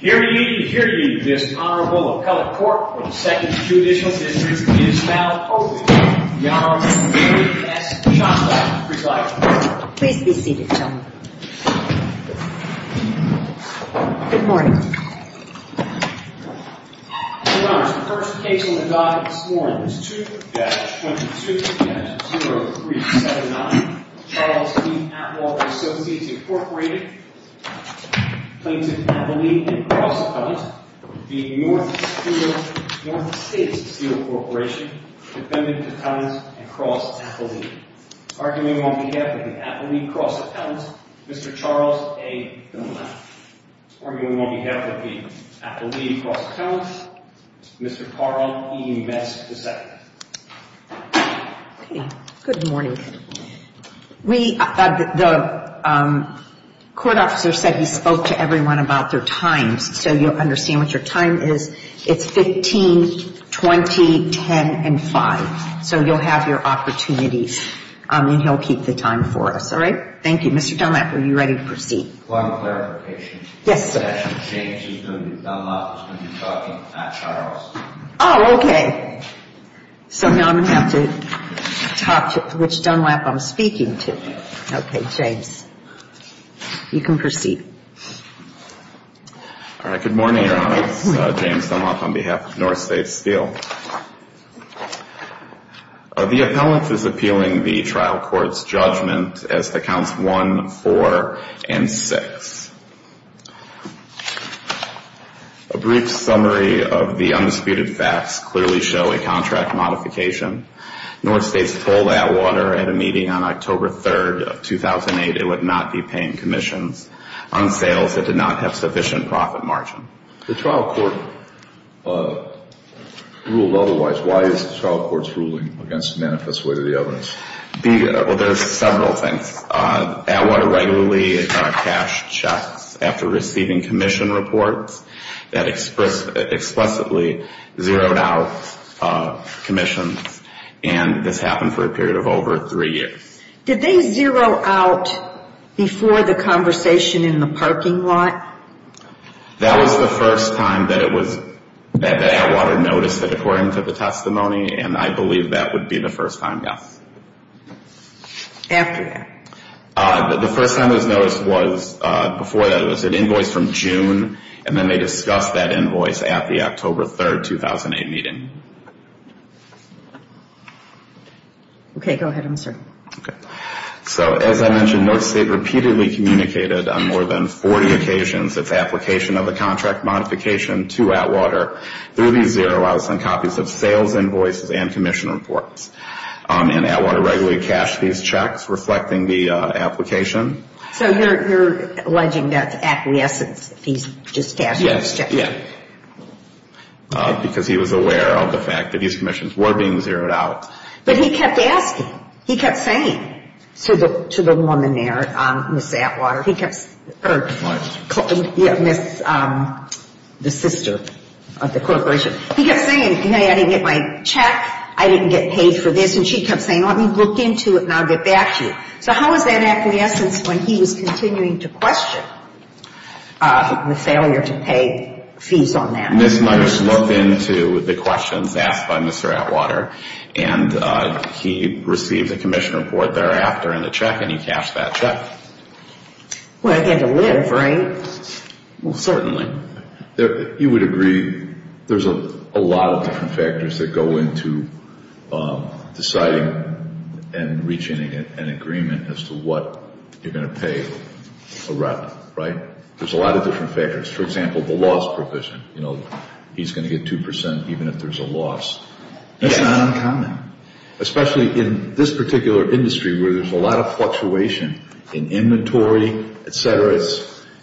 Hear ye, hear ye, this Honorable Appellate Court for the 2nd Judicial District is now open. The Honorable Mary S. Shostak, presiding. Please be seated, gentlemen. Good morning. Your Honors, the first case on the docket this morning is 2-22-0379, Charles D. Atwater Associates, Inc. Claims of Appellee and Cross-Appellant v. North States Steel Corp. Defendant Appellant and Cross-Appellant. Arguing on behalf of the Appellee Cross-Appellant, Mr. Charles A. Dunlap. Arguing on behalf of the Appellee Cross-Appellant, Mr. Carl E. Best II. Good morning. We, the court officer said he spoke to everyone about their times, so you'll understand what your time is. It's 15, 20, 10, and 5. So you'll have your opportunities, and he'll keep the time for us. All right? Thank you. Mr. Dunlap, are you ready to proceed? One clarification. Yes, sir. Mr. James Dunlap is going to be talking at Charles. Oh, okay. So now I'm going to have to talk to which Dunlap I'm speaking to. Okay, James. You can proceed. All right, good morning, Your Honor. Good morning. James Dunlap on behalf of North States Steel. The appellant is appealing the trial court's judgment as to counts 1, 4, and 6. A brief summary of the undisputed facts clearly show a contract modification. North States told Atwater at a meeting on October 3rd of 2008 it would not be paying commissions on sales that did not have sufficient profit margin. The trial court ruled otherwise. Why is the trial court's ruling against the manifest way to the evidence? Well, there's several things. Atwater regularly cashed checks after receiving commission reports that explicitly zeroed out commissions, and this happened for a period of over three years. Did they zero out before the conversation in the parking lot? That was the first time that Atwater noticed it according to the testimony, and I believe that would be the first time, yes. After that? The first time it was noticed was before that. It was an invoice from June, and then they discussed that invoice at the October 3rd, 2008 meeting. Okay, go ahead, I'm sorry. Okay. So as I mentioned, North State repeatedly communicated on more than 40 occasions its application of the contract modification to Atwater. Through these zero outs and copies of sales invoices and commission reports. And Atwater regularly cashed these checks, reflecting the application. So you're alleging that's acquiescence, that he's just cashed those checks? Yes, yes. Because he was aware of the fact that these commissions were being zeroed out. But he kept asking. He kept saying to the woman there, Ms. Atwater, he kept, or Ms., the sister of the corporation, he kept saying, you know, I didn't get my check, I didn't get paid for this, and she kept saying, let me look into it and I'll get back to you. So how is that acquiescence when he was continuing to question the failure to pay fees on that? Ms. Myers looked into the questions asked by Mr. Atwater, and he received a commission report thereafter and a check, and he cashed that check. Well, it had to live, right? Well, certainly. You would agree there's a lot of different factors that go into deciding and reaching an agreement as to what you're going to pay a rep, right? There's a lot of different factors. For example, the loss provision, you know, he's going to get 2% even if there's a loss. That's not uncommon, especially in this particular industry where there's a lot of fluctuation in inventory, et cetera.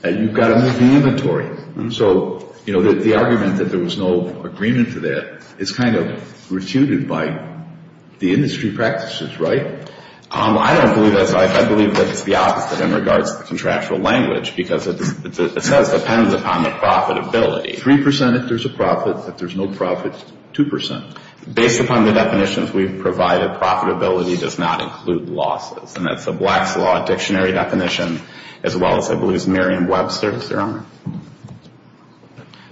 You've got to move the inventory. So, you know, the argument that there was no agreement to that is kind of refuted by the industry practices, right? I don't believe that. I believe that it's the opposite in regards to the contractual language because it says depends upon the profitability. 3% if there's a profit. If there's no profit, 2%. Based upon the definitions we've provided, profitability does not include losses, and that's the Black's Law dictionary definition as well as, I believe, Merriam-Webster's theorem.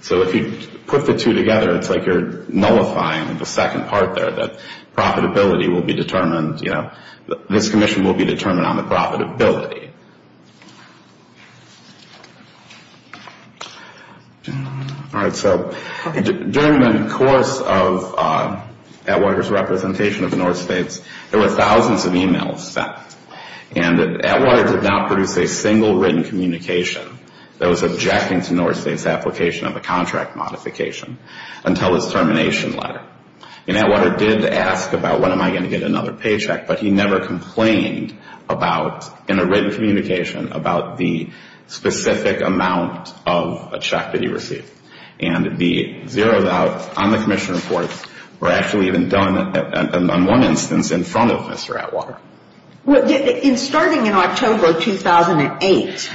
So if you put the two together, it's like you're nullifying the second part there, that profitability will be determined, you know, this commission will be determined on the profitability. All right, so during the course of Atwater's representation of the North States, there were thousands of emails sent, and Atwater did not produce a single written communication that was objecting to North States' application of a contract modification until his termination letter. And Atwater did ask about when am I going to get another paycheck, but he never complained about, in a written communication, about the specific amount of a check that he received. And the zeros out on the commission report were actually even done on one instance in front of Mr. Atwater. Well, starting in October 2008,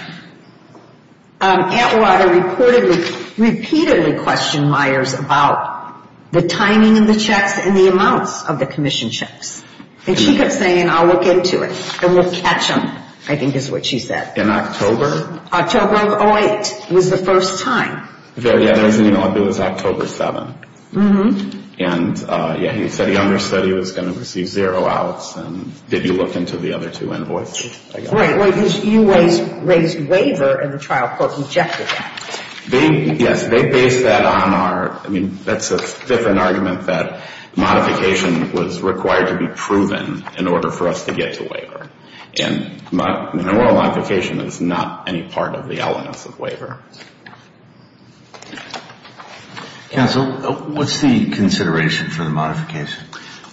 Atwater reportedly, repeatedly questioned Myers about the timing of the checks and the amounts of the commission checks. And she kept saying, I'll look into it, and we'll catch them, I think is what she said. In October? October of 2008 was the first time. Yeah, there was an email. It was October 7. And, yeah, he said he understood he was going to receive zero outs, and did you look into the other two invoices? Right, right, because you raised waiver, and the trial court rejected that. They, yes, they based that on our, I mean, that's a different argument that modification was required to be proven in order for us to get to waiver. And an oral modification is not any part of the elements of waiver. Counsel, what's the consideration for the modification?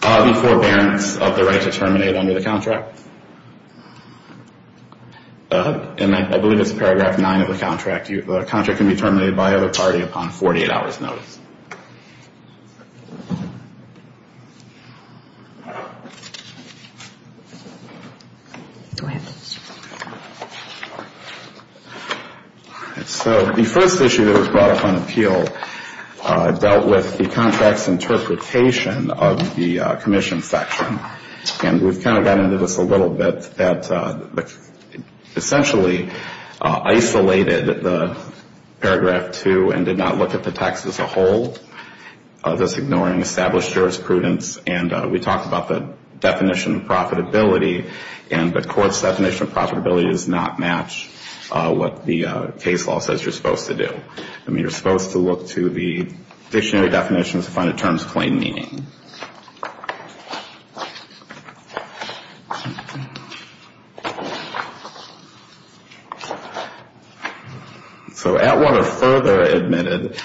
The forbearance of the right to terminate under the contract. And I believe it's Paragraph 9 of the contract. The contract can be terminated by either party upon 48 hours' notice. So the first issue that was brought up on appeal dealt with the contract's interpretation of the commission section. And we've kind of gotten into this a little bit. It essentially isolated the Paragraph 2 and did not look at the text as a whole, thus ignoring established jurisprudence. And we talked about the definition of profitability, and the court's definition of profitability does not match what the case law says you're supposed to do. I mean, you're supposed to look to the dictionary definitions to find the terms of plain meaning. So Atwater further admitted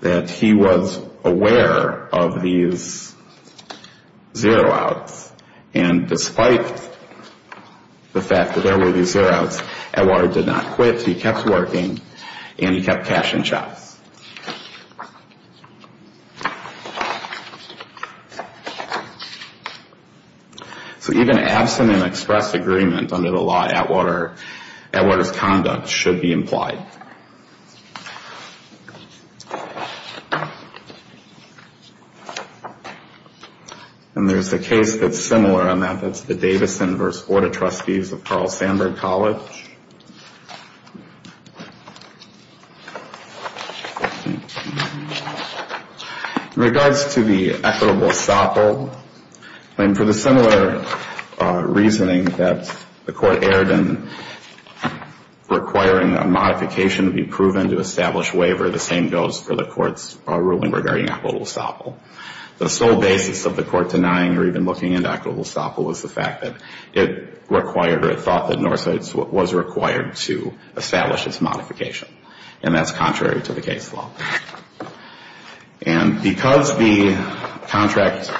that he was aware of these zero outs. And despite the fact that there were these zero outs, Atwater did not quit. So he kept working and he kept cashing checks. So even absent an express agreement under the law, Atwater's conduct should be implied. And there's a case that's similar on that. That's the Davison v. Orta Trustees of Carl Sandburg College. In regards to the equitable estoppel, and for the similar reasoning that the court erred in requiring a modification to be proven to establish waiver, the same goes for the court's ruling regarding equitable estoppel. The sole basis of the court denying or even looking at equitable estoppel was the fact that it required or it thought that Northside was required to establish its modification. And that's contrary to the case law. And because the contract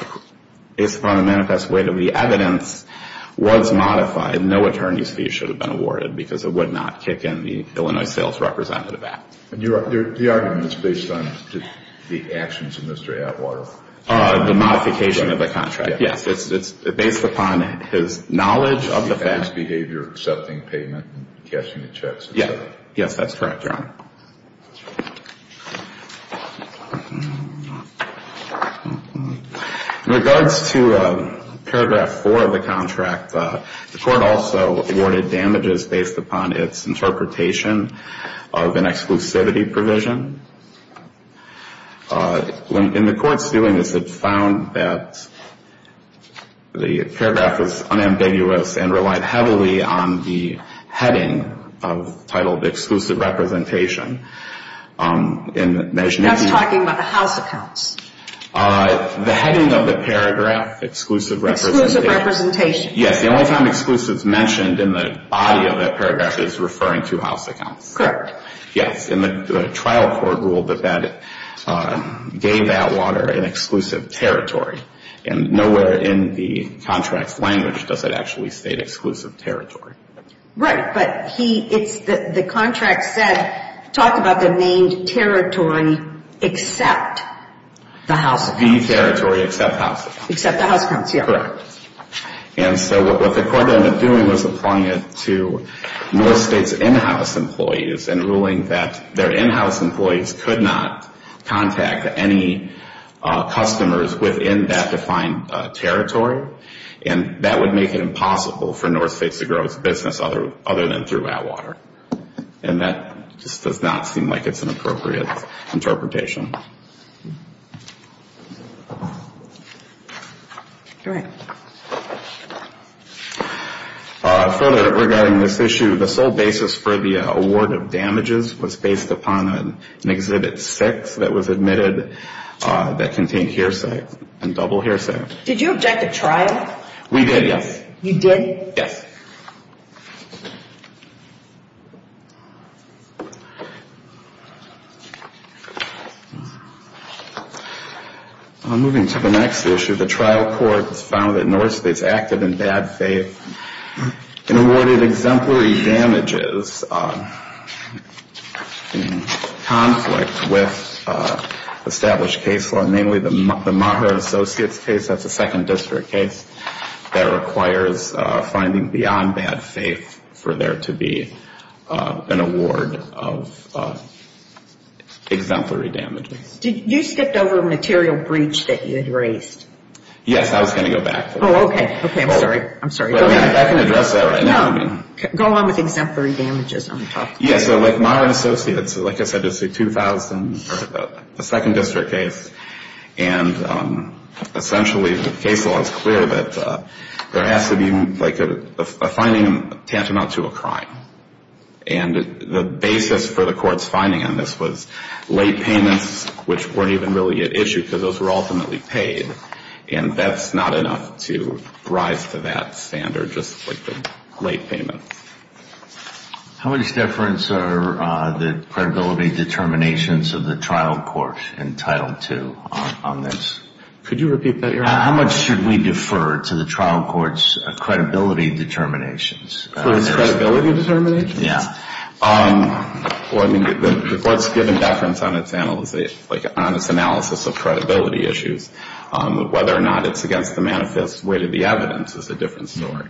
is upon a manifest way that the evidence was modified, no attorney's fee should have been awarded because it would not kick in the Illinois Sales Representative Act. And the argument is based on the actions of Mr. Atwater? The modification of the contract, yes. It's based upon his knowledge of the facts. His behavior, accepting payment, and cashing the checks. Yes, that's correct, Your Honor. In regards to paragraph 4 of the contract, the court also awarded damages based upon its interpretation of an exclusivity provision. When the court's doing this, it found that the paragraph was unambiguous and relied heavily on the heading titled Exclusive Representation. That's talking about the house accounts? The heading of the paragraph, Exclusive Representation. Yes, the only time exclusive is mentioned in the body of that paragraph is referring to house accounts. Correct. Yes, and the trial court ruled that that gave Atwater an exclusive territory. And nowhere in the contract's language does it actually state exclusive territory. Right, but the contract said, talked about the named territory except the house accounts. The territory except house accounts. Except the house accounts, yes. Correct. And so what the court ended up doing was applying it to North State's in-house employees and ruling that their in-house employees could not contact any customers within that defined territory. And that would make it impossible for North State to grow its business other than through Atwater. And that just does not seem like it's an appropriate interpretation. Go ahead. Further regarding this issue, the sole basis for the award of damages was based upon an Exhibit 6 that was admitted that contained hearsay and double hearsay. Did you object to trial? We did, yes. You did? Yes. Thank you. Moving to the next issue, the trial court found that North State's acted in bad faith and awarded exemplary damages in conflict with established case law, namely the Maher Associates case. That's a second district case that requires finding beyond bad faith for there to be an award of exemplary damages. You skipped over a material breach that you had raised. Yes. I was going to go back to that. Oh, okay. Okay, I'm sorry. I'm sorry. Go ahead. I can address that right now. No. Go along with exemplary damages on top of that. Yes. So like Maher Associates, like I said, this is a 2000, a second district case, and essentially the case law is clear that there has to be like a finding tantamount to a crime. And the basis for the court's finding on this was late payments, which weren't even really at issue because those were ultimately paid, and that's not enough to rise to that standard, just like the late payments. How much deference are the credibility determinations of the trial court entitled to on this? Could you repeat that? How much should we defer to the trial court's credibility determinations? For its credibility determinations? Yeah. Well, I mean, the court's given deference on its analysis of credibility issues. Whether or not it's against the manifest weight of the evidence is a different story.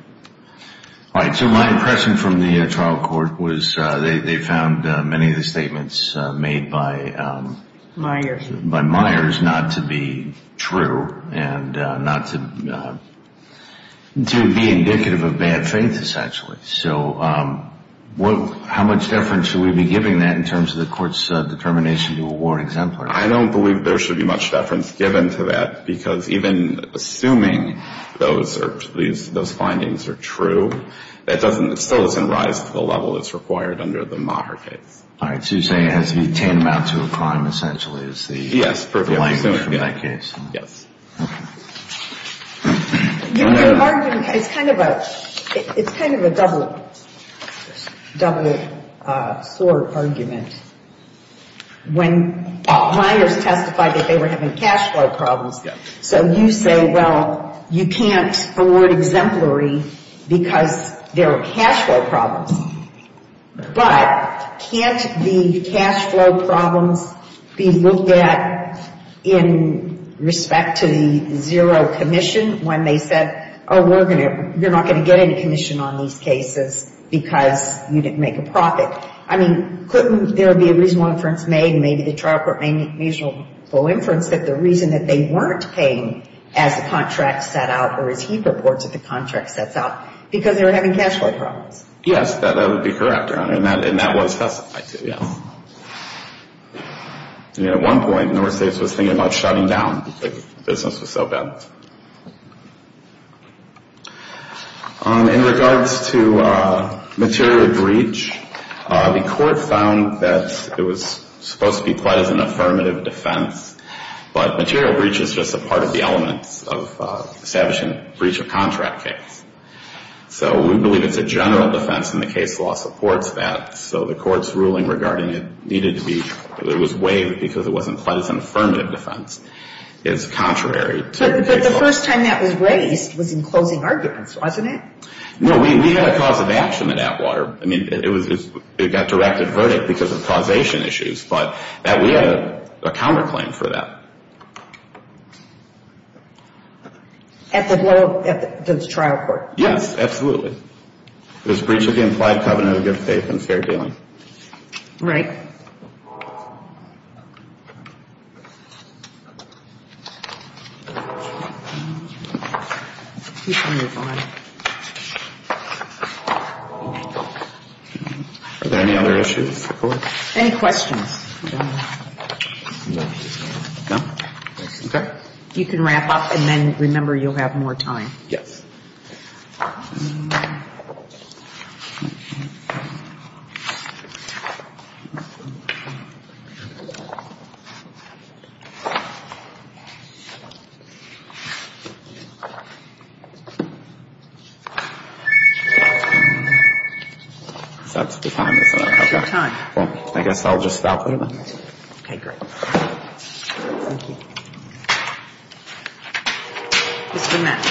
All right. So my impression from the trial court was they found many of the statements made by Meyers not to be true and not to be indicative of bad faith, essentially. So how much deference should we be giving that in terms of the court's determination to award exemplary? I don't believe there should be much deference given to that because even assuming those findings are true, it still doesn't rise to the level that's required under the Maher case. All right. So you're saying it has to be tantamount to a crime, essentially, is the language from that case. Yes. Okay. Your argument, it's kind of a double sword argument. When Meyers testified that they were having cash flow problems, so you say, well, you can't award exemplary because there are cash flow problems. But can't the cash flow problems be looked at in respect to the zero commission when they said, oh, we're going to, you're not going to get any commission on these cases because you didn't make a profit. I mean, couldn't there be a reasonable inference made, maybe the trial court made a reasonable inference that the reason that they weren't paying as the contract set out or as he purports if the contract sets out, because they were having cash flow problems. Yes, that would be correct, Your Honor. And that was testified to, yes. At one point, the United States was thinking about shutting down. The business was so bad. In regards to material breach, the court found that it was supposed to be quite as an affirmative defense, but material breach is just a part of the elements of establishing a breach of contract case. So we believe it's a general defense, and the case law supports that. So the court's ruling regarding it needed to be, it was waived because it wasn't quite as an affirmative defense, is contrary to the case law. But the first time that was raised was in closing arguments, wasn't it? No, we had a cause of action in Atwater. I mean, it got directed verdict because of causation issues, but we had a counterclaim for that. At the trial court? Yes, absolutely. It was breach of the implied covenant of good faith and fair dealing. Right. Are there any other issues? Any questions? No. No? Okay. You can wrap up, and then remember you'll have more time. Yes. So that's the time, is that it? That's your time. Well, I guess I'll just output it then. Okay, great. Thank you. Mr. Metz.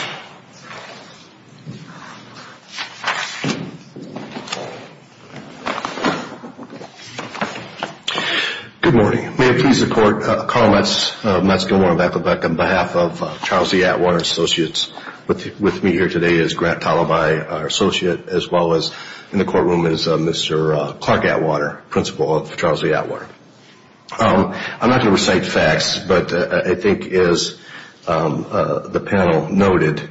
Good morning. May it please the court, Carl Metz, Metz Gilmore, and Beth Lebek on behalf of Charles E. Atwater Associates. With me here today is Grant Talabai, our associate, as well as in the courtroom is Mr. Clark Atwater, principal of Charles E. Atwater. I'm not going to recite facts, but I think as the panel noted,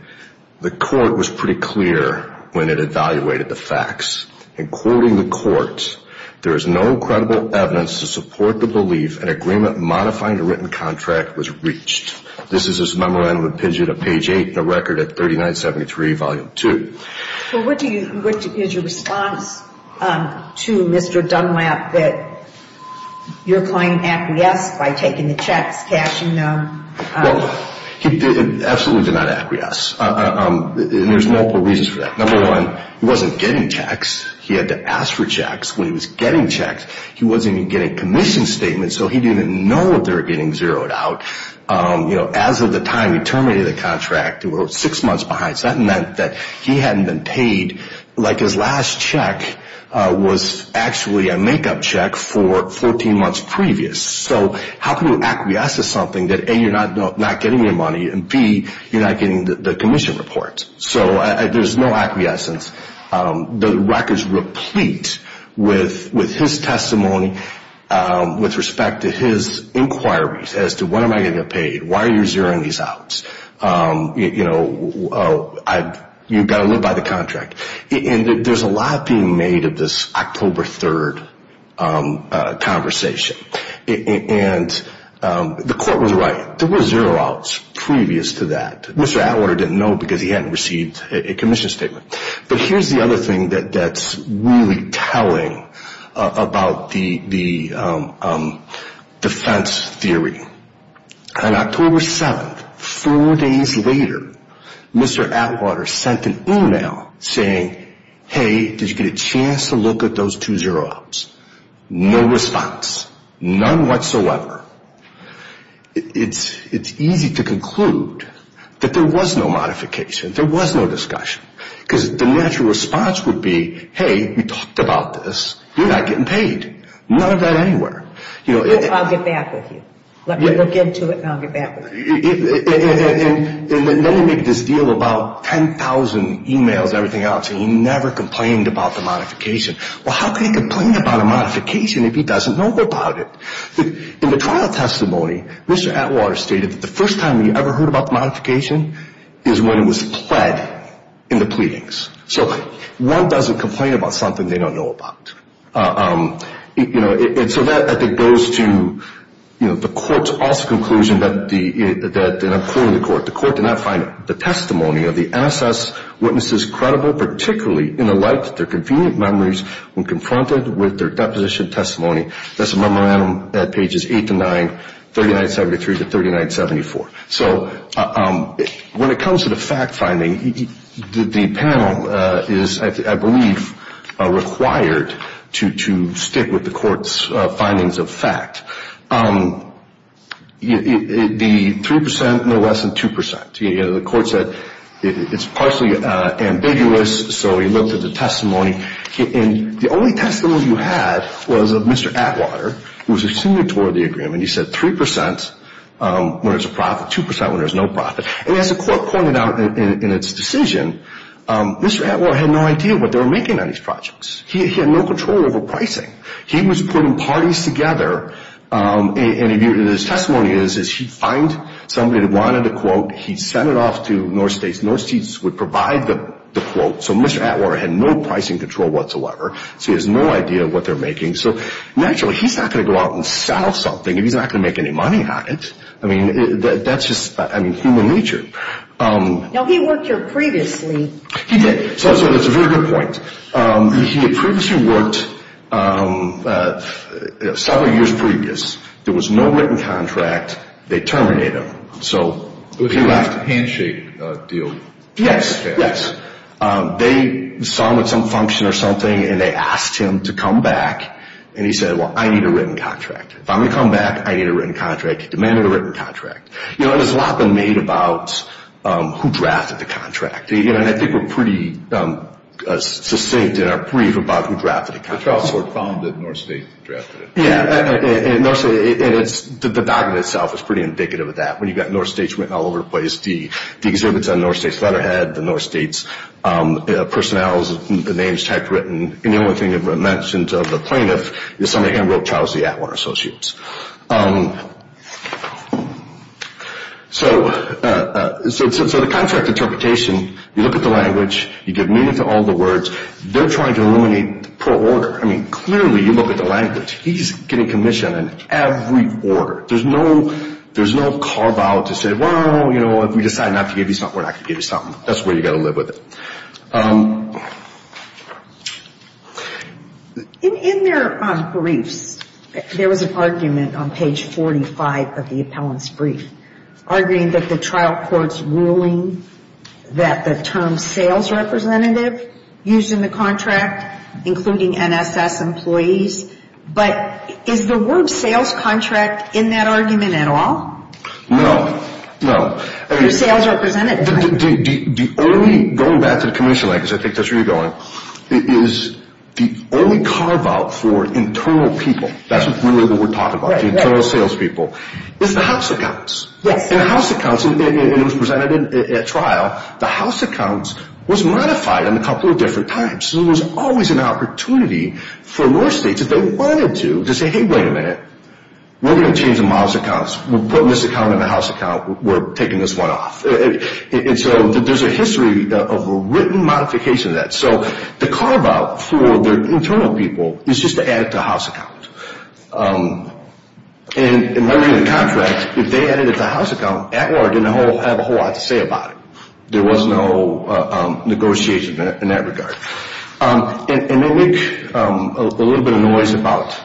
the court was pretty clear when it evaluated the facts. In quoting the court, there is no credible evidence to support the belief an agreement modifying a written contract was breached. This is his memorandum and pidget of page 8 in the record at 3973, volume 2. Well, what is your response to Mr. Dunlap that you're playing acquiesce by taking the checks, cashing them? Well, he absolutely did not acquiesce, and there's multiple reasons for that. Number one, he wasn't getting checks. He had to ask for checks. When he was getting checks, he wasn't even getting commission statements, so he didn't even know that they were getting zeroed out. As of the time he terminated the contract, he was six months behind, so that meant that he hadn't been paid. His last check was actually a make-up check for 14 months previous. So how can you acquiesce to something that, A, you're not getting your money, and, B, you're not getting the commission report? So there's no acquiescence. The record's replete with his testimony with respect to his inquiries as to when am I going to get paid? Why are you zeroing these outs? You've got to live by the contract. And there's a lot being made of this October 3rd conversation. And the court was right. There were zero outs previous to that. Mr. Atwater didn't know because he hadn't received a commission statement. But here's the other thing that's really telling about the defense theory. On October 7th, four days later, Mr. Atwater sent an email saying, hey, did you get a chance to look at those two zero outs? No response. None whatsoever. It's easy to conclude that there was no modification, there was no discussion. Because the natural response would be, hey, we talked about this. You're not getting paid. None of that anywhere. I'll get back with you. Let me look into it and I'll get back with you. And then he made this deal about 10,000 emails and everything else, and he never complained about the modification. Well, how can he complain about a modification if he doesn't know about it? In the trial testimony, Mr. Atwater stated that the first time he ever heard about the modification is when it was pled in the pleadings. So one doesn't complain about something they don't know about. And so that, I think, goes to the court's also conclusion that the court did not find the testimony of the NSS witnesses credible, particularly in the light of their convenient memories when confronted with their deposition testimony. That's a memorandum at pages 8 to 9, 3973 to 3974. So when it comes to the fact-finding, the panel is, I believe, required to stick with the court's findings of fact. The 3 percent, no less than 2 percent. The court said it's partially ambiguous, so he looked at the testimony. And the only testimony you had was of Mr. Atwater, who was a signatory of the agreement. He said 3 percent when there's a profit, 2 percent when there's no profit. And as the court pointed out in its decision, Mr. Atwater had no idea what they were making on these projects. He had no control over pricing. He was putting parties together, and his testimony is he'd find somebody that wanted a quote, he'd send it off to North States. North States would provide the quote. So Mr. Atwater had no pricing control whatsoever, so he has no idea what they're making. So naturally, he's not going to go out and sell something if he's not going to make any money on it. I mean, that's just human nature. Now, he worked here previously. He did. So that's a very good point. He had previously worked several years previous. There was no written contract. They terminated him. It was a handshake deal. Yes, yes. They saw him at some function or something, and they asked him to come back. And he said, well, I need a written contract. If I'm going to come back, I need a written contract. He demanded a written contract. You know, there's a lot been made about who drafted the contract. And I think we're pretty succinct in our brief about who drafted the contract. The trial court found that North States drafted it. Yes, and the document itself is pretty indicative of that. When you've got North States written all over the place, the exhibits on North States' letterhead, the North States' personnels, the names typed, written, and the only thing mentioned of the plaintiff is somebody hand-wrote Charles E. Atwater Associates. So the contract interpretation, you look at the language, you give meaning to all the words. They're trying to eliminate the poor order. I mean, clearly, you look at the language. He's getting commission in every order. There's no carve-out to say, well, you know, if we decide not to give you something, we're not going to give you something. That's where you've got to live with it. In their briefs, there was an argument on page 45 of the appellant's brief, arguing that the trial court's ruling that the term sales representative used in the contract, including NSS employees, but is the word sales contract in that argument at all? No, no. You're a sales representative. Going back to the commission, because I think that's where you're going, is the only carve-out for internal people, that's really what we're talking about, the internal salespeople, is the house accounts. The house accounts, and it was presented at trial, the house accounts was modified on a couple of different times. So there was always an opportunity for more states, if they wanted to, to say, hey, wait a minute, we're going to change the mouse accounts. We're putting this account in the house account. We're taking this one off. And so there's a history of written modification of that. So the carve-out for the internal people is just to add it to the house account. And in writing the contract, if they added it to the house account, Atwater didn't have a whole lot to say about it. There was no negotiation in that regard. And they make a little bit of noise about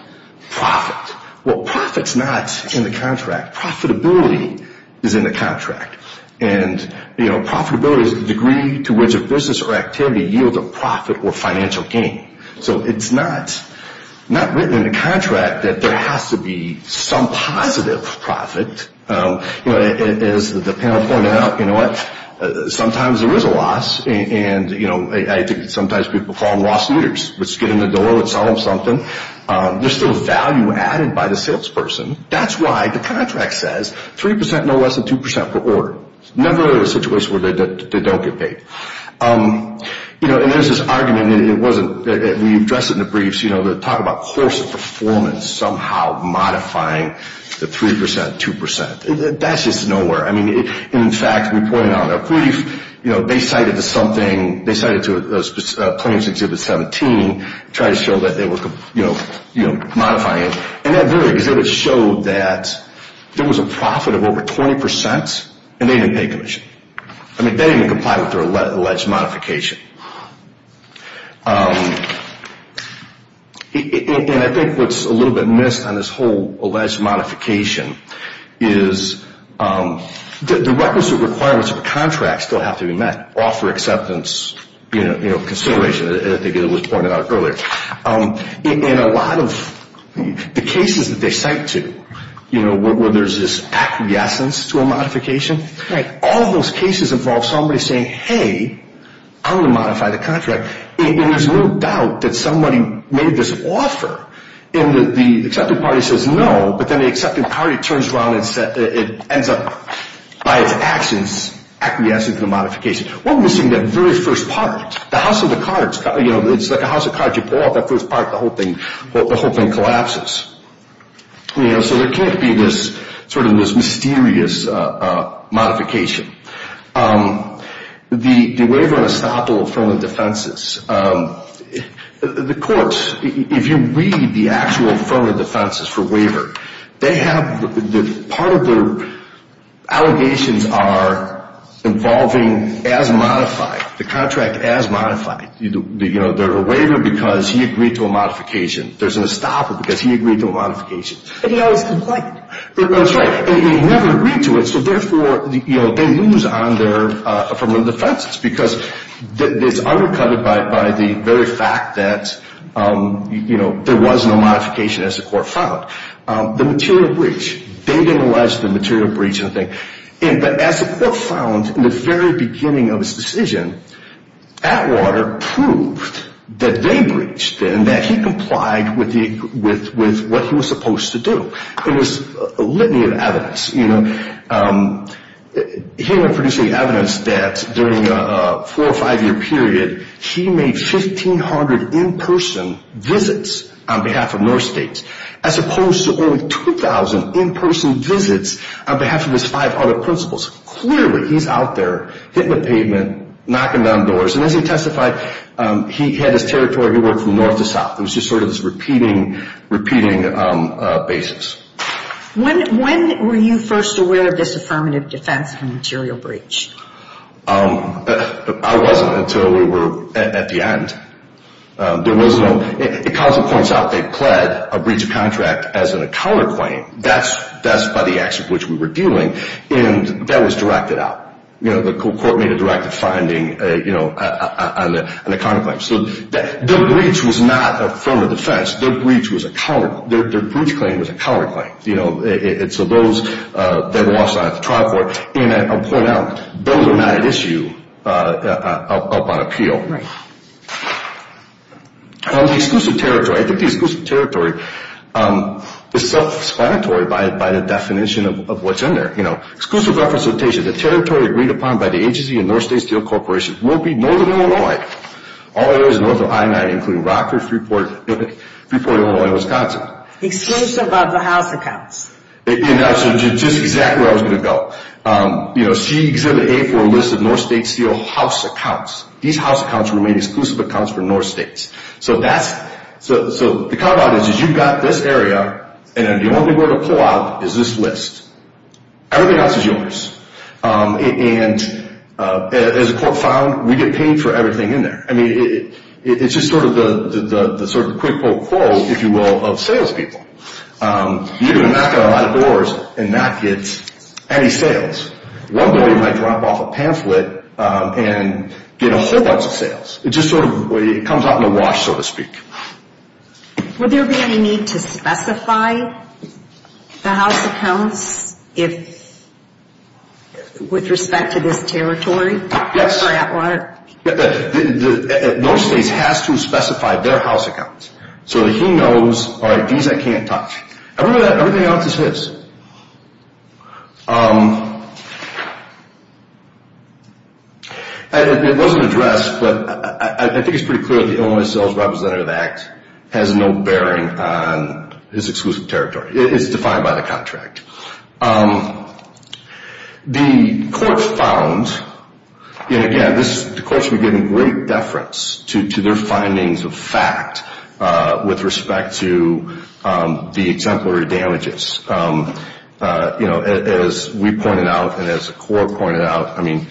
profit. Well, profit's not in the contract. Profitability is in the contract. And profitability is the degree to which a business or activity yields a profit or financial gain. So it's not written in the contract that there has to be some positive profit. As the panel pointed out, you know what, sometimes there is a loss. And, you know, I think sometimes people call them loss-eaters. Let's get in the door, let's sell them something. There's still value added by the salesperson. That's why the contract says 3%, no less than 2% per order. Never a situation where they don't get paid. You know, and there's this argument, and we've addressed it in the briefs, you know, to talk about course of performance somehow modifying the 3%, 2%. That's just nowhere. I mean, in fact, we pointed out in a brief, you know, they cited to something, they cited to a plaintiff's Exhibit 17, tried to show that they were, you know, modifying it. And that very exhibit showed that there was a profit of over 20%, and they didn't pay commission. I mean, they didn't even comply with their alleged modification. And I think what's a little bit missed on this whole alleged modification is the requisite requirements of a contract still have to be met, offer acceptance, you know, consideration, as I think it was pointed out earlier. In a lot of the cases that they cite to, you know, where there's this acquiescence to a modification, all those cases involve somebody saying, hey, I'm going to modify the contract. And there's no doubt that somebody made this offer, and the accepting party says no, but then the accepting party turns around and ends up, by its actions, acquiescing to the modification. We're missing that very first part. The house of cards, you know, it's like a house of cards. You pull out that first part, the whole thing collapses. You know, so there can't be this sort of mysterious modification. The waiver and estoppel from the defenses. The courts, if you read the actual firm of defenses for waiver, they have part of their allegations are involving as modified, the contract as modified. You know, there's a waiver because he agreed to a modification. There's an estoppel because he agreed to a modification. But he always complained. That's right. And he never agreed to it, so therefore, you know, they lose on their firm of defenses because it's undercutted by the very fact that, you know, there was no modification as the court found. The material breach. They didn't allege the material breach and the thing. But as the court found in the very beginning of his decision, Atwater proved that they breached and that he complied with what he was supposed to do. It was a litany of evidence. You know, he went producing evidence that during a four or five-year period, he made 1,500 in-person visits on behalf of North States as opposed to only 2,000 in-person visits on behalf of his five other principals. Clearly, he's out there hitting the pavement, knocking down doors. And as he testified, he had his territory. He worked from north to south. It was just sort of this repeating basis. When were you first aware of this affirmative defense of a material breach? I wasn't until we were at the end. There was no – it constantly points out they pled a breach of contract as in a counterclaim. That's by the action for which we were dealing. And that was directed out. The court made a directed finding on the counterclaim. So their breach was not affirmative defense. Their breach claim was a counterclaim. It's those that lost out at the trial court. And I'll point out, those are not at issue up on appeal. Right. The exclusive territory, I think the exclusive territory is self-explanatory by the definition of what's in there. Exclusive representation, the territory agreed upon by the agency and North State Steel Corporation will be northern Illinois. All areas north of I-9, including Rockford, Freeport, Illinois, and Wisconsin. Exclusive of the house accounts. Just exactly where I was going to go. She exhibited A4 lists of North State Steel house accounts. These house accounts were made exclusive accounts for North States. So the come out is you've got this area, and the only way to pull out is this list. Everything else is yours. And as the court found, we get paid for everything in there. I mean, it's just sort of the sort of quick pull quote, if you will, of sales people. You're going to knock on a lot of doors and not get any sales. One day you might drop off a pamphlet and get a whole bunch of sales. It just sort of comes out in a wash, so to speak. Would there be any need to specify the house accounts with respect to this territory? North States has to specify their house accounts. So he knows, all right, these I can't touch. Everything else is his. It wasn't addressed, but I think it's pretty clear that the Illinois Sales Representative Act has no bearing on this exclusive territory. It's defined by the contract. The court found, and again, the court's been giving great deference to their findings of fact with respect to the exemplary damages. As we pointed out and as the court pointed out, the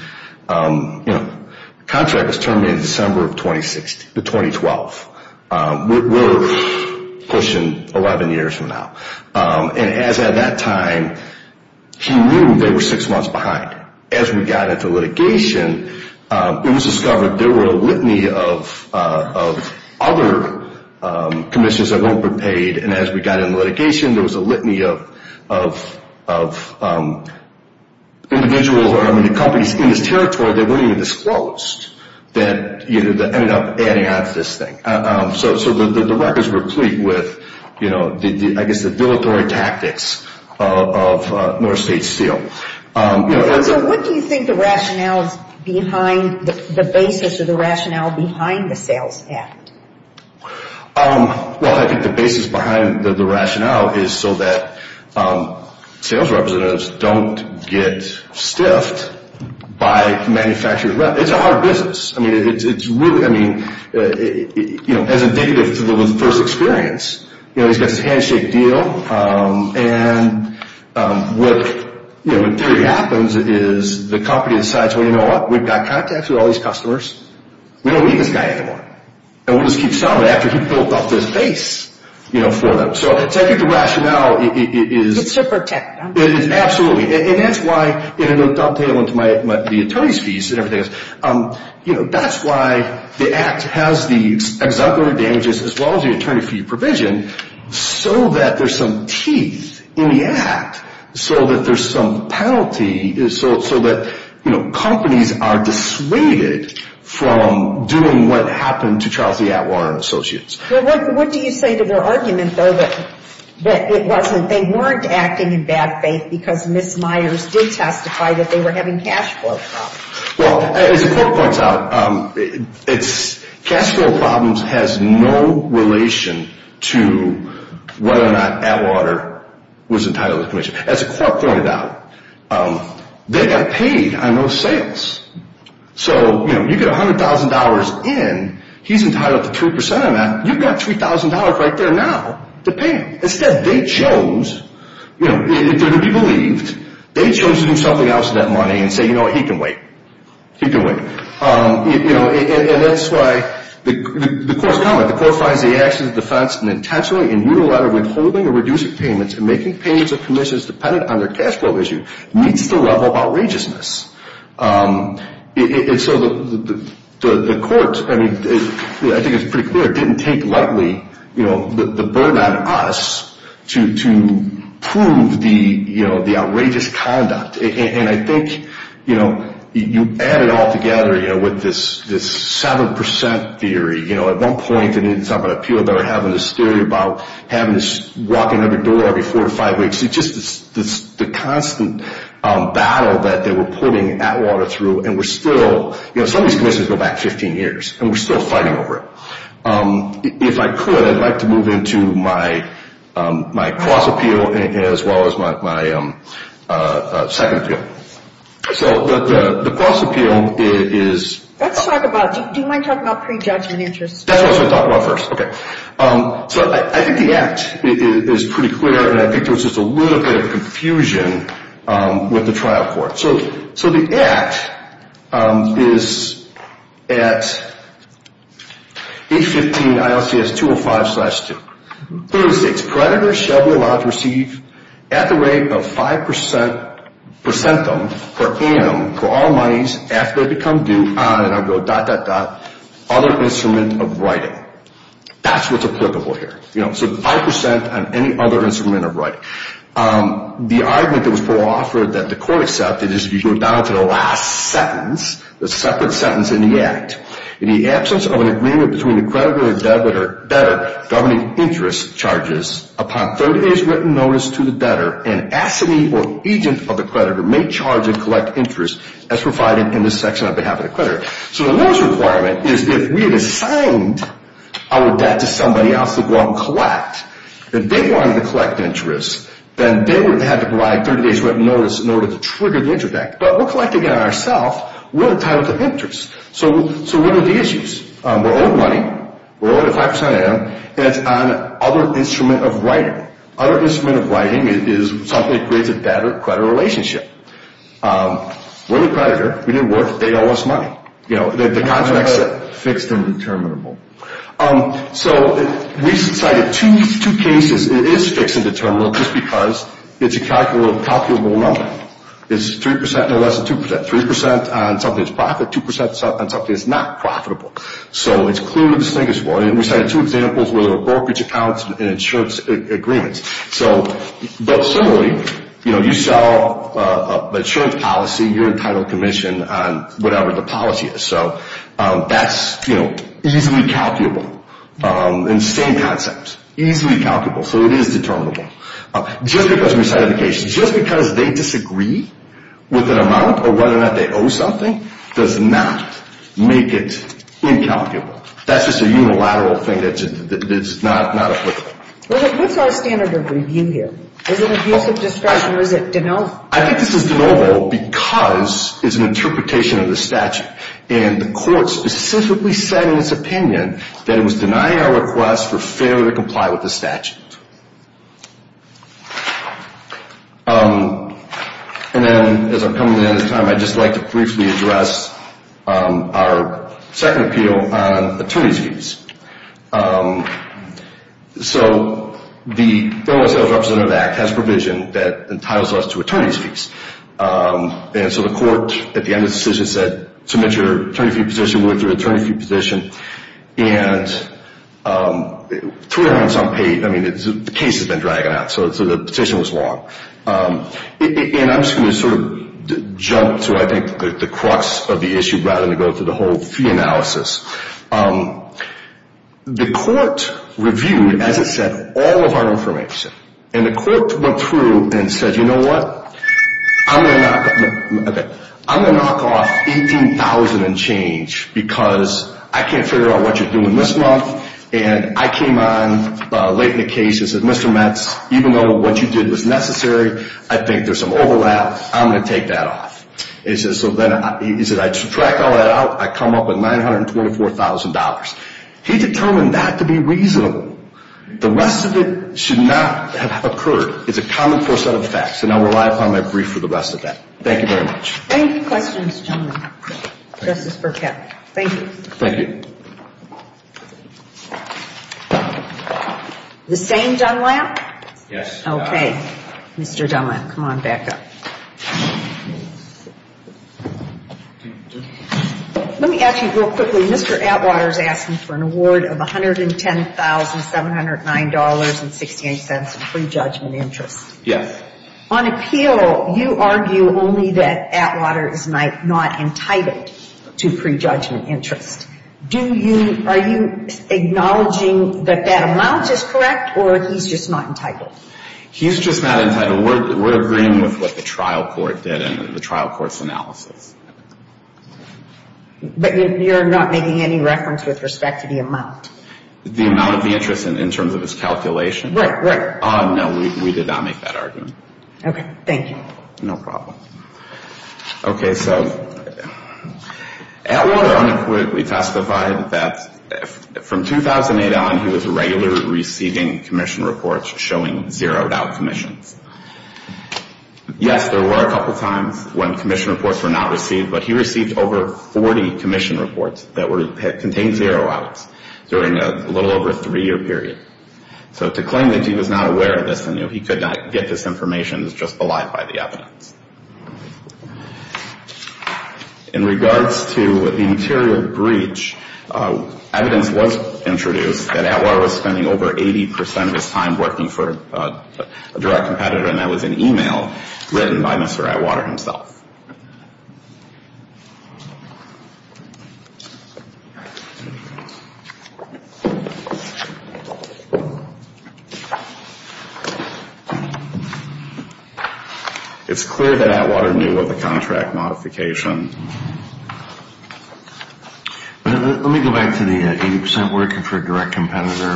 contract was terminated December of 2012. We're pushing 11 years from now. And as at that time, he knew they were six months behind. As we got into litigation, it was discovered there were a litany of other commissions that won't be paid. And as we got into litigation, there was a litany of individuals or companies in this territory that weren't even disclosed that ended up adding on to this thing. So the records were complete with, I guess, the villatory tactics of North States Steel. So what do you think the rationale is behind the basis or the rationale behind the sales act? Well, I think the basis behind the rationale is so that sales representatives don't get stiffed by manufacturing. It's a hard business. I mean, it's really, I mean, you know, as a negative to the first experience, you know, he's got this handshake deal, and what really happens is the company decides, well, you know what, we've got contacts with all these customers. We don't need this guy anymore. And we'll just keep selling after he's built up this base, you know, for them. So I think the rationale is. It's to protect them. It is, absolutely. And that's why, and I'll play it on to my, the attorney's piece and everything else. You know, that's why the act has the exemplary damages as well as the attorney fee provision, so that there's some teeth in the act, so that there's some penalty, so that, you know, companies are dissuaded from doing what happened to Charles E. Atwater & Associates. Well, what do you say to their argument, though, that it wasn't, they weren't acting in bad faith because Ms. Myers did testify that they were having cash flow problems? Well, as the court points out, it's, cash flow problems has no relation to whether or not Atwater was entitled to commission. As the court pointed out, they got paid on those sales. So, you know, you get $100,000 in, he's entitled to 2% of that. You've got $3,000 right there now to pay him. Instead, they chose, you know, if they're to be believed, they chose to do something else with that money and say, you know what, he can wait. He can wait. You know, and that's why the court's comment, the court finds the actions of defense withholding or reducing payments and making payments or commissions dependent on their cash flow issue meets the level of outrageousness. And so the court, I mean, I think it's pretty clear, didn't take lightly, you know, the burden on us to prove the, you know, the outrageous conduct. And I think, you know, you add it all together, you know, with this 7% theory. You know, at one point they didn't talk about appeal, they were having this theory about having to walk in every door every four to five weeks. It's just the constant battle that they were putting Atwater through. And we're still, you know, some of these commissions go back 15 years. And we're still fighting over it. If I could, I'd like to move into my cross appeal as well as my second appeal. So the cross appeal is. Let's talk about, do you mind talking about prejudgment interest? That's what I was going to talk about first. Okay. So I think the act is pretty clear and I think there was just a little bit of confusion with the trial court. So the act is at 815 ILCS 205-2. It states predators shall be allowed to receive at the rate of 5% per centum per annum for all monies after they become due, and I'll go dot, dot, dot, other instrument of writing. That's what's applicable here. You know, so 5% on any other instrument of writing. The argument that was offered that the court accepted is if you go down to the last sentence, the separate sentence in the act. In the absence of an agreement between the creditor and debtor governing interest charges upon 30 days written notice to the debtor, an assignee or agent of the creditor may charge and collect interest as provided in this section on behalf of the creditor. So the notice requirement is if we had assigned our debt to somebody else to go out and collect, and they wanted to collect interest, then they would have to provide 30 days written notice in order to trigger the interest act. But we're collecting it ourselves. We're entitled to interest. So what are the issues? We're owed money. We're owed at 5% annum, and it's on other instrument of writing. Other instrument of writing is something that creates a debtor-creditor relationship. We're the creditor. We didn't work. They owe us money. You know, the contract's fixed and determinable. So we cited two cases. It is fixed and determinable just because it's a calculable number. It's 3%, no less than 2%. 3% on something that's profit, 2% on something that's not profitable. So it's clearly distinguishable. And we cited two examples where there were brokerage accounts and insurance agreements. But similarly, you know, you sell an insurance policy, you're entitled to commission on whatever the policy is. So that's, you know, easily calculable. And same concept, easily calculable. So it is determinable. Just because they disagree with an amount or whether or not they owe something does not make it incalculable. That's just a unilateral thing that's not applicable. What's our standard of review here? Is it abuse of discretion or is it de novo? I think this is de novo because it's an interpretation of the statute. And the court specifically said in its opinion that it was denying our request for failure to comply with the statute. And then as I'm coming to the end of time, I'd just like to briefly address our second appeal on attorney's fees. So the Federal Sales Representative Act has provision that entitles us to attorney's fees. And so the court at the end of the decision said, submit your attorney fee petition with your attorney fee petition. And three months on pay, I mean, the case has been dragging on. So the petition was long. And I'm just going to sort of jump to, I think, the crux of the issue rather than go through the whole fee analysis. The court reviewed, as it said, all of our information. And the court went through and said, you know what? I'm going to knock off $18,000 and change because I can't figure out what you're doing this month. And I came on late in the case and said, Mr. Metz, even though what you did was necessary, I think there's some overlap. I'm going to take that off. He said, I subtract all that out, I come up with $924,000. He determined that to be reasonable. The rest of it should not have occurred. It's a common force out of the facts. And I'll rely upon my brief for the rest of that. Thank you very much. Thank you. Questions, gentlemen. Justice Burkett. Thank you. Thank you. The same Dunlap? Yes. Okay. Mr. Dunlap, come on back up. Let me ask you real quickly. Mr. Atwater is asking for an award of $110,709.68 in prejudgment interest. Yes. On appeal, you argue only that Atwater is not entitled to prejudgment interest. Are you acknowledging that that amount is correct or he's just not entitled? He's just not entitled. We're agreeing with what the trial court did and the trial court's analysis. But you're not making any reference with respect to the amount? The amount of the interest in terms of his calculation? Right, right. No, we did not make that argument. Okay. Thank you. No problem. Okay. So Atwater unequivocally testified that from 2008 on, he was regularly receiving commission reports showing zeroed out commissions. Yes, there were a couple times when commission reports were not received, but he received over 40 commission reports that contained zero outs during a little over a three-year period. So to claim that he was not aware of this and he could not get this information is just belied by the evidence. In regards to the material breach, evidence was introduced that Atwater was spending over 80% of his time working for a direct competitor and that was an email written by Mr. Atwater himself. It's clear that Atwater knew of the contract modification. Let me go back to the 80% working for a direct competitor.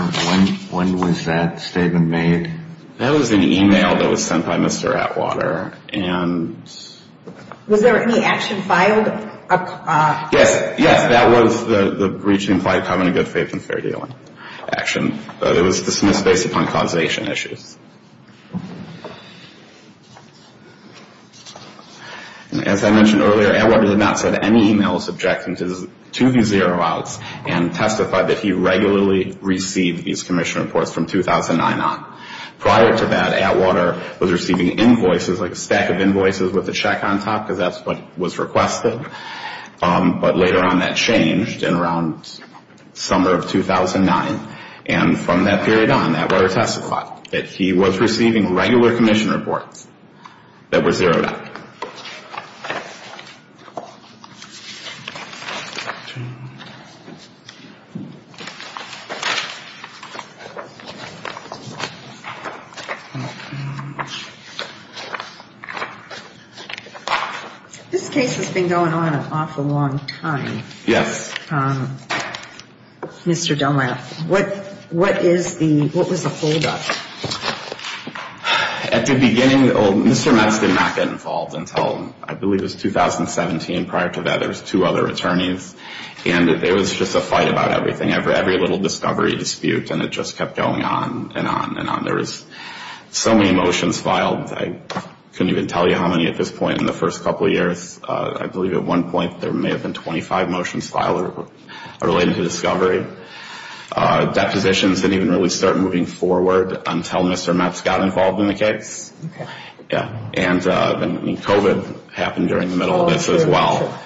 When was that statement made? That was an email that was sent by Mr. Atwater, Was there any action filed? Yes. Yes, that was the breach implied having a good faith and fair dealing action. It was dismissed based upon causation issues. As I mentioned earlier, Atwater did not send any emails objecting to the zero outs and testified that he regularly received these commission reports from 2009 on. Prior to that, Atwater was receiving invoices, like a stack of invoices with a check on top, because that's what was requested, but later on that changed in around summer of 2009 and from that period on, Atwater testified that he was receiving regular commission reports that were zeroed out. This case has been going on an awful long time. Yes. Mr. Dunlap, what was the holdup? At the beginning, Mr. Metz did not get involved until I believe it was 2017. Prior to that, there was two other attorneys and there was just a fight about everything, every little discovery dispute and it just kept going on and on and on. There was so many motions filed. I couldn't even tell you how many at this point in the first couple of years. I believe at one point there may have been 25 motions filed related to discovery. Depositions didn't even really start moving forward until Mr. Metz got involved in the case. And then COVID happened during the middle of this as well.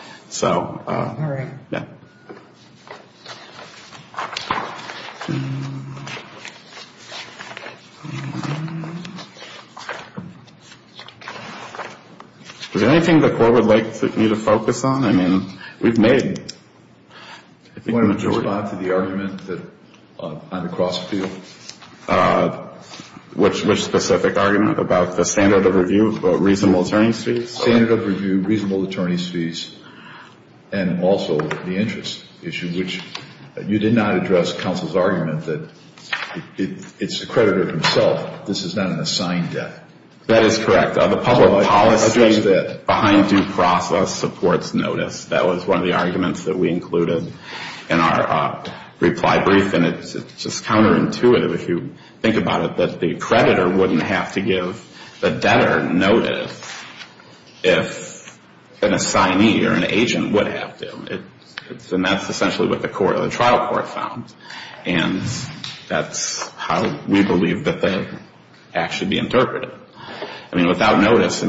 Is there anything the court would like me to focus on? I mean, we've made the majority. Do you want to respond to the argument on the cross appeal? Which specific argument? About the standard of review, reasonable attorney's fees? Standard of review, reasonable attorney's fees. And also the interest issue, which you did not address counsel's argument that it's the creditor himself. This is not an assigned debt. That is correct. The public policy behind due process supports notice. That was one of the arguments that we included in our reply brief. And it's just counterintuitive if you think about it, that the creditor wouldn't have to give the debtor notice if an assignee or an agent would have to. And that's essentially what the trial court found. And that's how we believe that the act should be interpreted. I mean, without notice,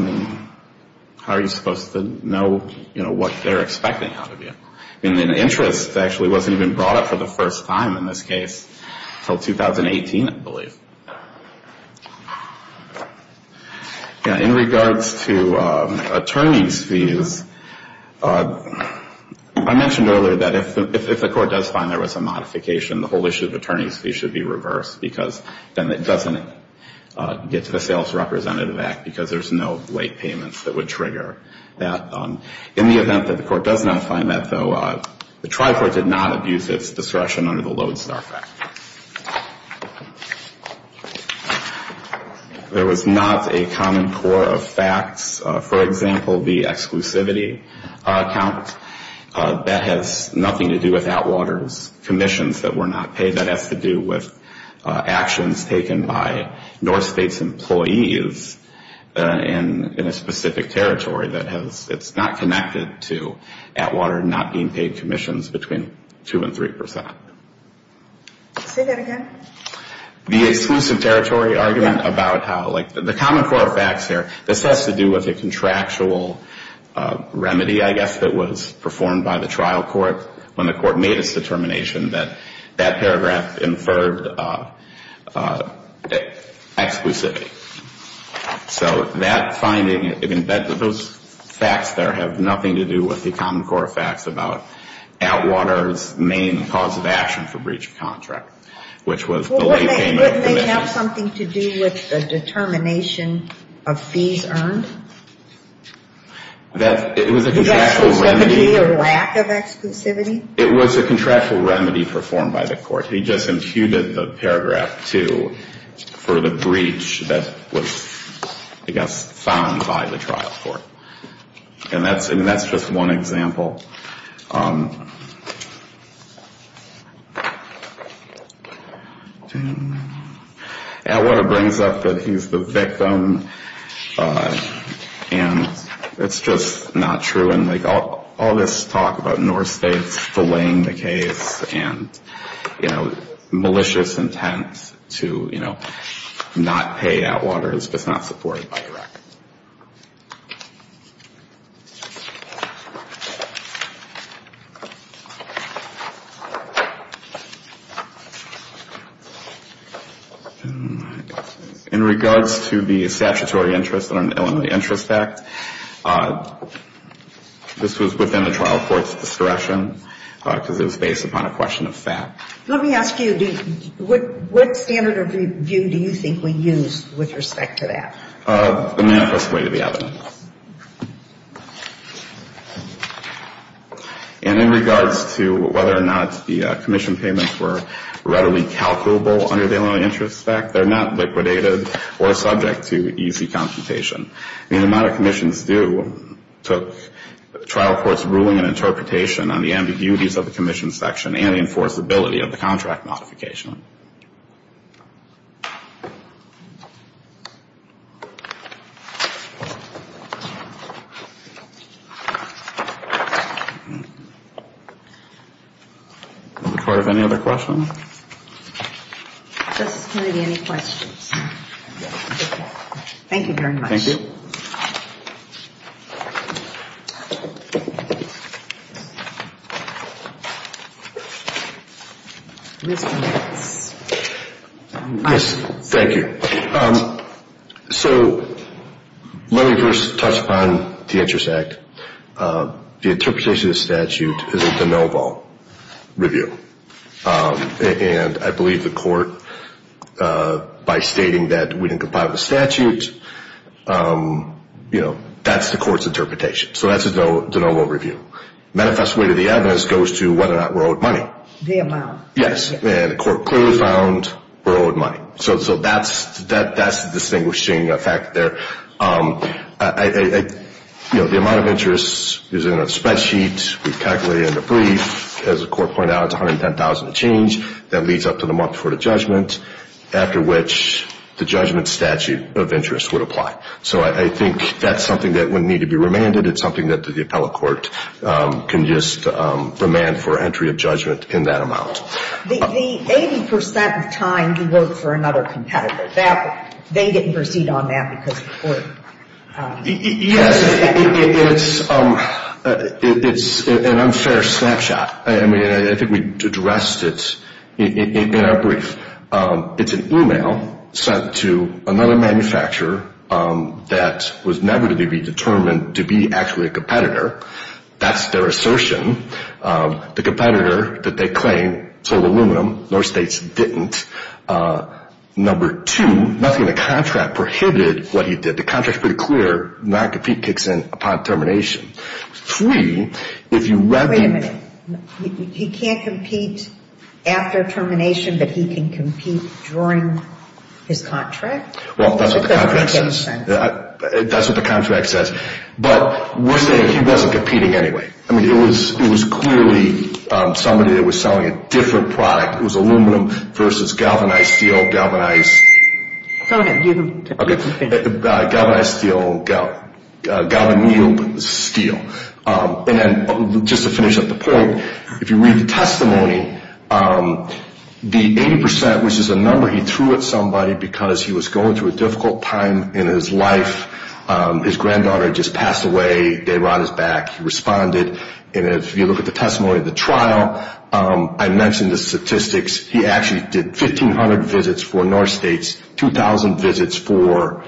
how are you supposed to know what they're expecting out of you? And the interest actually wasn't even brought up for the first time in this case until 2018, I believe. In regards to attorney's fees, I mentioned earlier that if the court does find there was a modification, the whole issue of attorney's fees should be reversed, because then it doesn't get to the Sales Representative Act, because there's no late payments that would trigger that. In the event that the court does not find that, though, the trial court did not abuse its discretion under the Lodestar Act. There was not a common core of facts. For example, the exclusivity account, that has nothing to do with Atwater's commissions that were not paid. That has to do with actions taken by North State's employees in a specific territory that's not connected to Atwater not being paid commissions between 2% and 3%. Say that again? The exclusive territory argument about how, like, the common core of facts here, this has to do with a contractual remedy, I guess, that was performed by the trial court when the court made its determination that that paragraph inferred exclusivity. So that finding, those facts there have nothing to do with the common core of facts about Atwater's main cause of action for breach of contract, which was the late payment of commissions. Well, wouldn't they have something to do with the determination of fees earned? It was a contractual remedy. The exclusivity or lack of exclusivity? It was a contractual remedy performed by the court. He just imputed the paragraph 2 for the breach that was, I guess, found by the trial court. And that's just one example. Atwater brings up that he's the victim, and it's just not true. And, like, all this talk about North states delaying the case and, you know, malicious intent to, you know, not pay Atwater is just not supported by the record. In regards to the statutory interest in an Illinois interest act, this was within the trial court's discretion because it was based upon a question of fact. Let me ask you, what standard of review do you think we use with respect to that? And in regards to whether or not the commission payments were readily calculable under the Illinois interest act, they're not liquidated or subject to easy consultation. I mean, the amount of commissions due took trial court's ruling and interpretation on the ambiguities of the commission section and the enforceability of the contract modification. Any other questions? Justice Kennedy, any questions? Thank you very much. Thank you. Yes, thank you. So let me first touch upon the interest act. The interpretation of the statute is a de novo review. And I believe the court, by stating that we didn't comply with the statute, you know, that's the court's interpretation. So that's a de novo review. Manifest way to the evidence goes to whether or not we're owed money. The amount. Yes. And the court clearly found we're owed money. So that's the distinguishing effect there. You know, the amount of interest is in a spreadsheet. We've calculated it in a brief. As the court pointed out, it's 110,000 to change. That leads up to the month before the judgment, after which the judgment statute of interest would apply. So I think that's something that would need to be remanded. It's something that the appellate court can just remand for entry of judgment in that amount. The 80% of time you vote for another competitor. They didn't proceed on that because of court. Yes. It's an unfair snapshot. I mean, I think we addressed it in our brief. It's an e-mail sent to another manufacturer that was never to be determined to be actually a competitor. That's their assertion. The competitor that they claim sold aluminum. North State's didn't. Number two, nothing in the contract prohibited what he did. The contract's pretty clear. Not compete kicks in upon termination. Three, if you recommend. Wait a minute. He can't compete after termination, but he can compete during his contract? Well, that's what the contract says. That doesn't make any sense. That's what the contract says. But we're saying he wasn't competing anyway. I mean, it was clearly somebody that was selling a different product. It was aluminum versus galvanized steel, galvanized. Go ahead. Galvanized steel, galvanized steel. And just to finish up the point, if you read the testimony, the 80%, which is a number he threw at somebody because he was going through a difficult time in his life. His granddaughter had just passed away. They were on his back. He responded. And if you look at the testimony of the trial, I mentioned the statistics. He actually did 1,500 visits for North State's, 2,000 visits for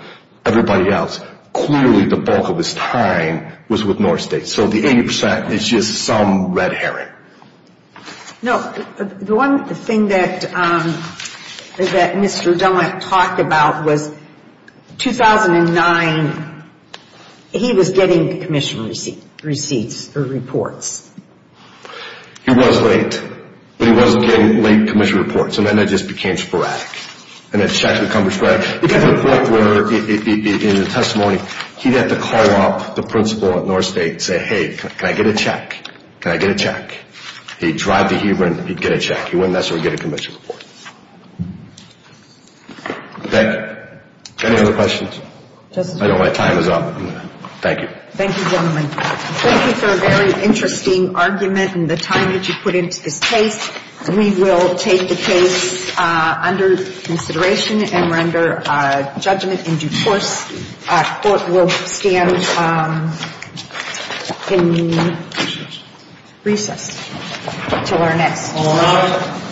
everybody else. Clearly the bulk of his time was with North State. So the 80% is just some red herring. No. The one thing that Mr. Dunlap talked about was 2009, he was getting commission receipts or reports. He was late. But he wasn't getting late commission reports. And then it just became sporadic. And the check would come to square. It got to the point where in the testimony, he'd have to call up the principal at North State and say, hey, can I get a check? Can I get a check? He'd drive to Huber and he'd get a check. He wouldn't necessarily get a commission report. Thank you. Any other questions? I know my time is up. Thank you. Thank you, gentlemen. Thank you for a very interesting argument and the time that you put into this case. We will take the case under consideration and render judgment in due course. We'll stand in recess until our next meeting.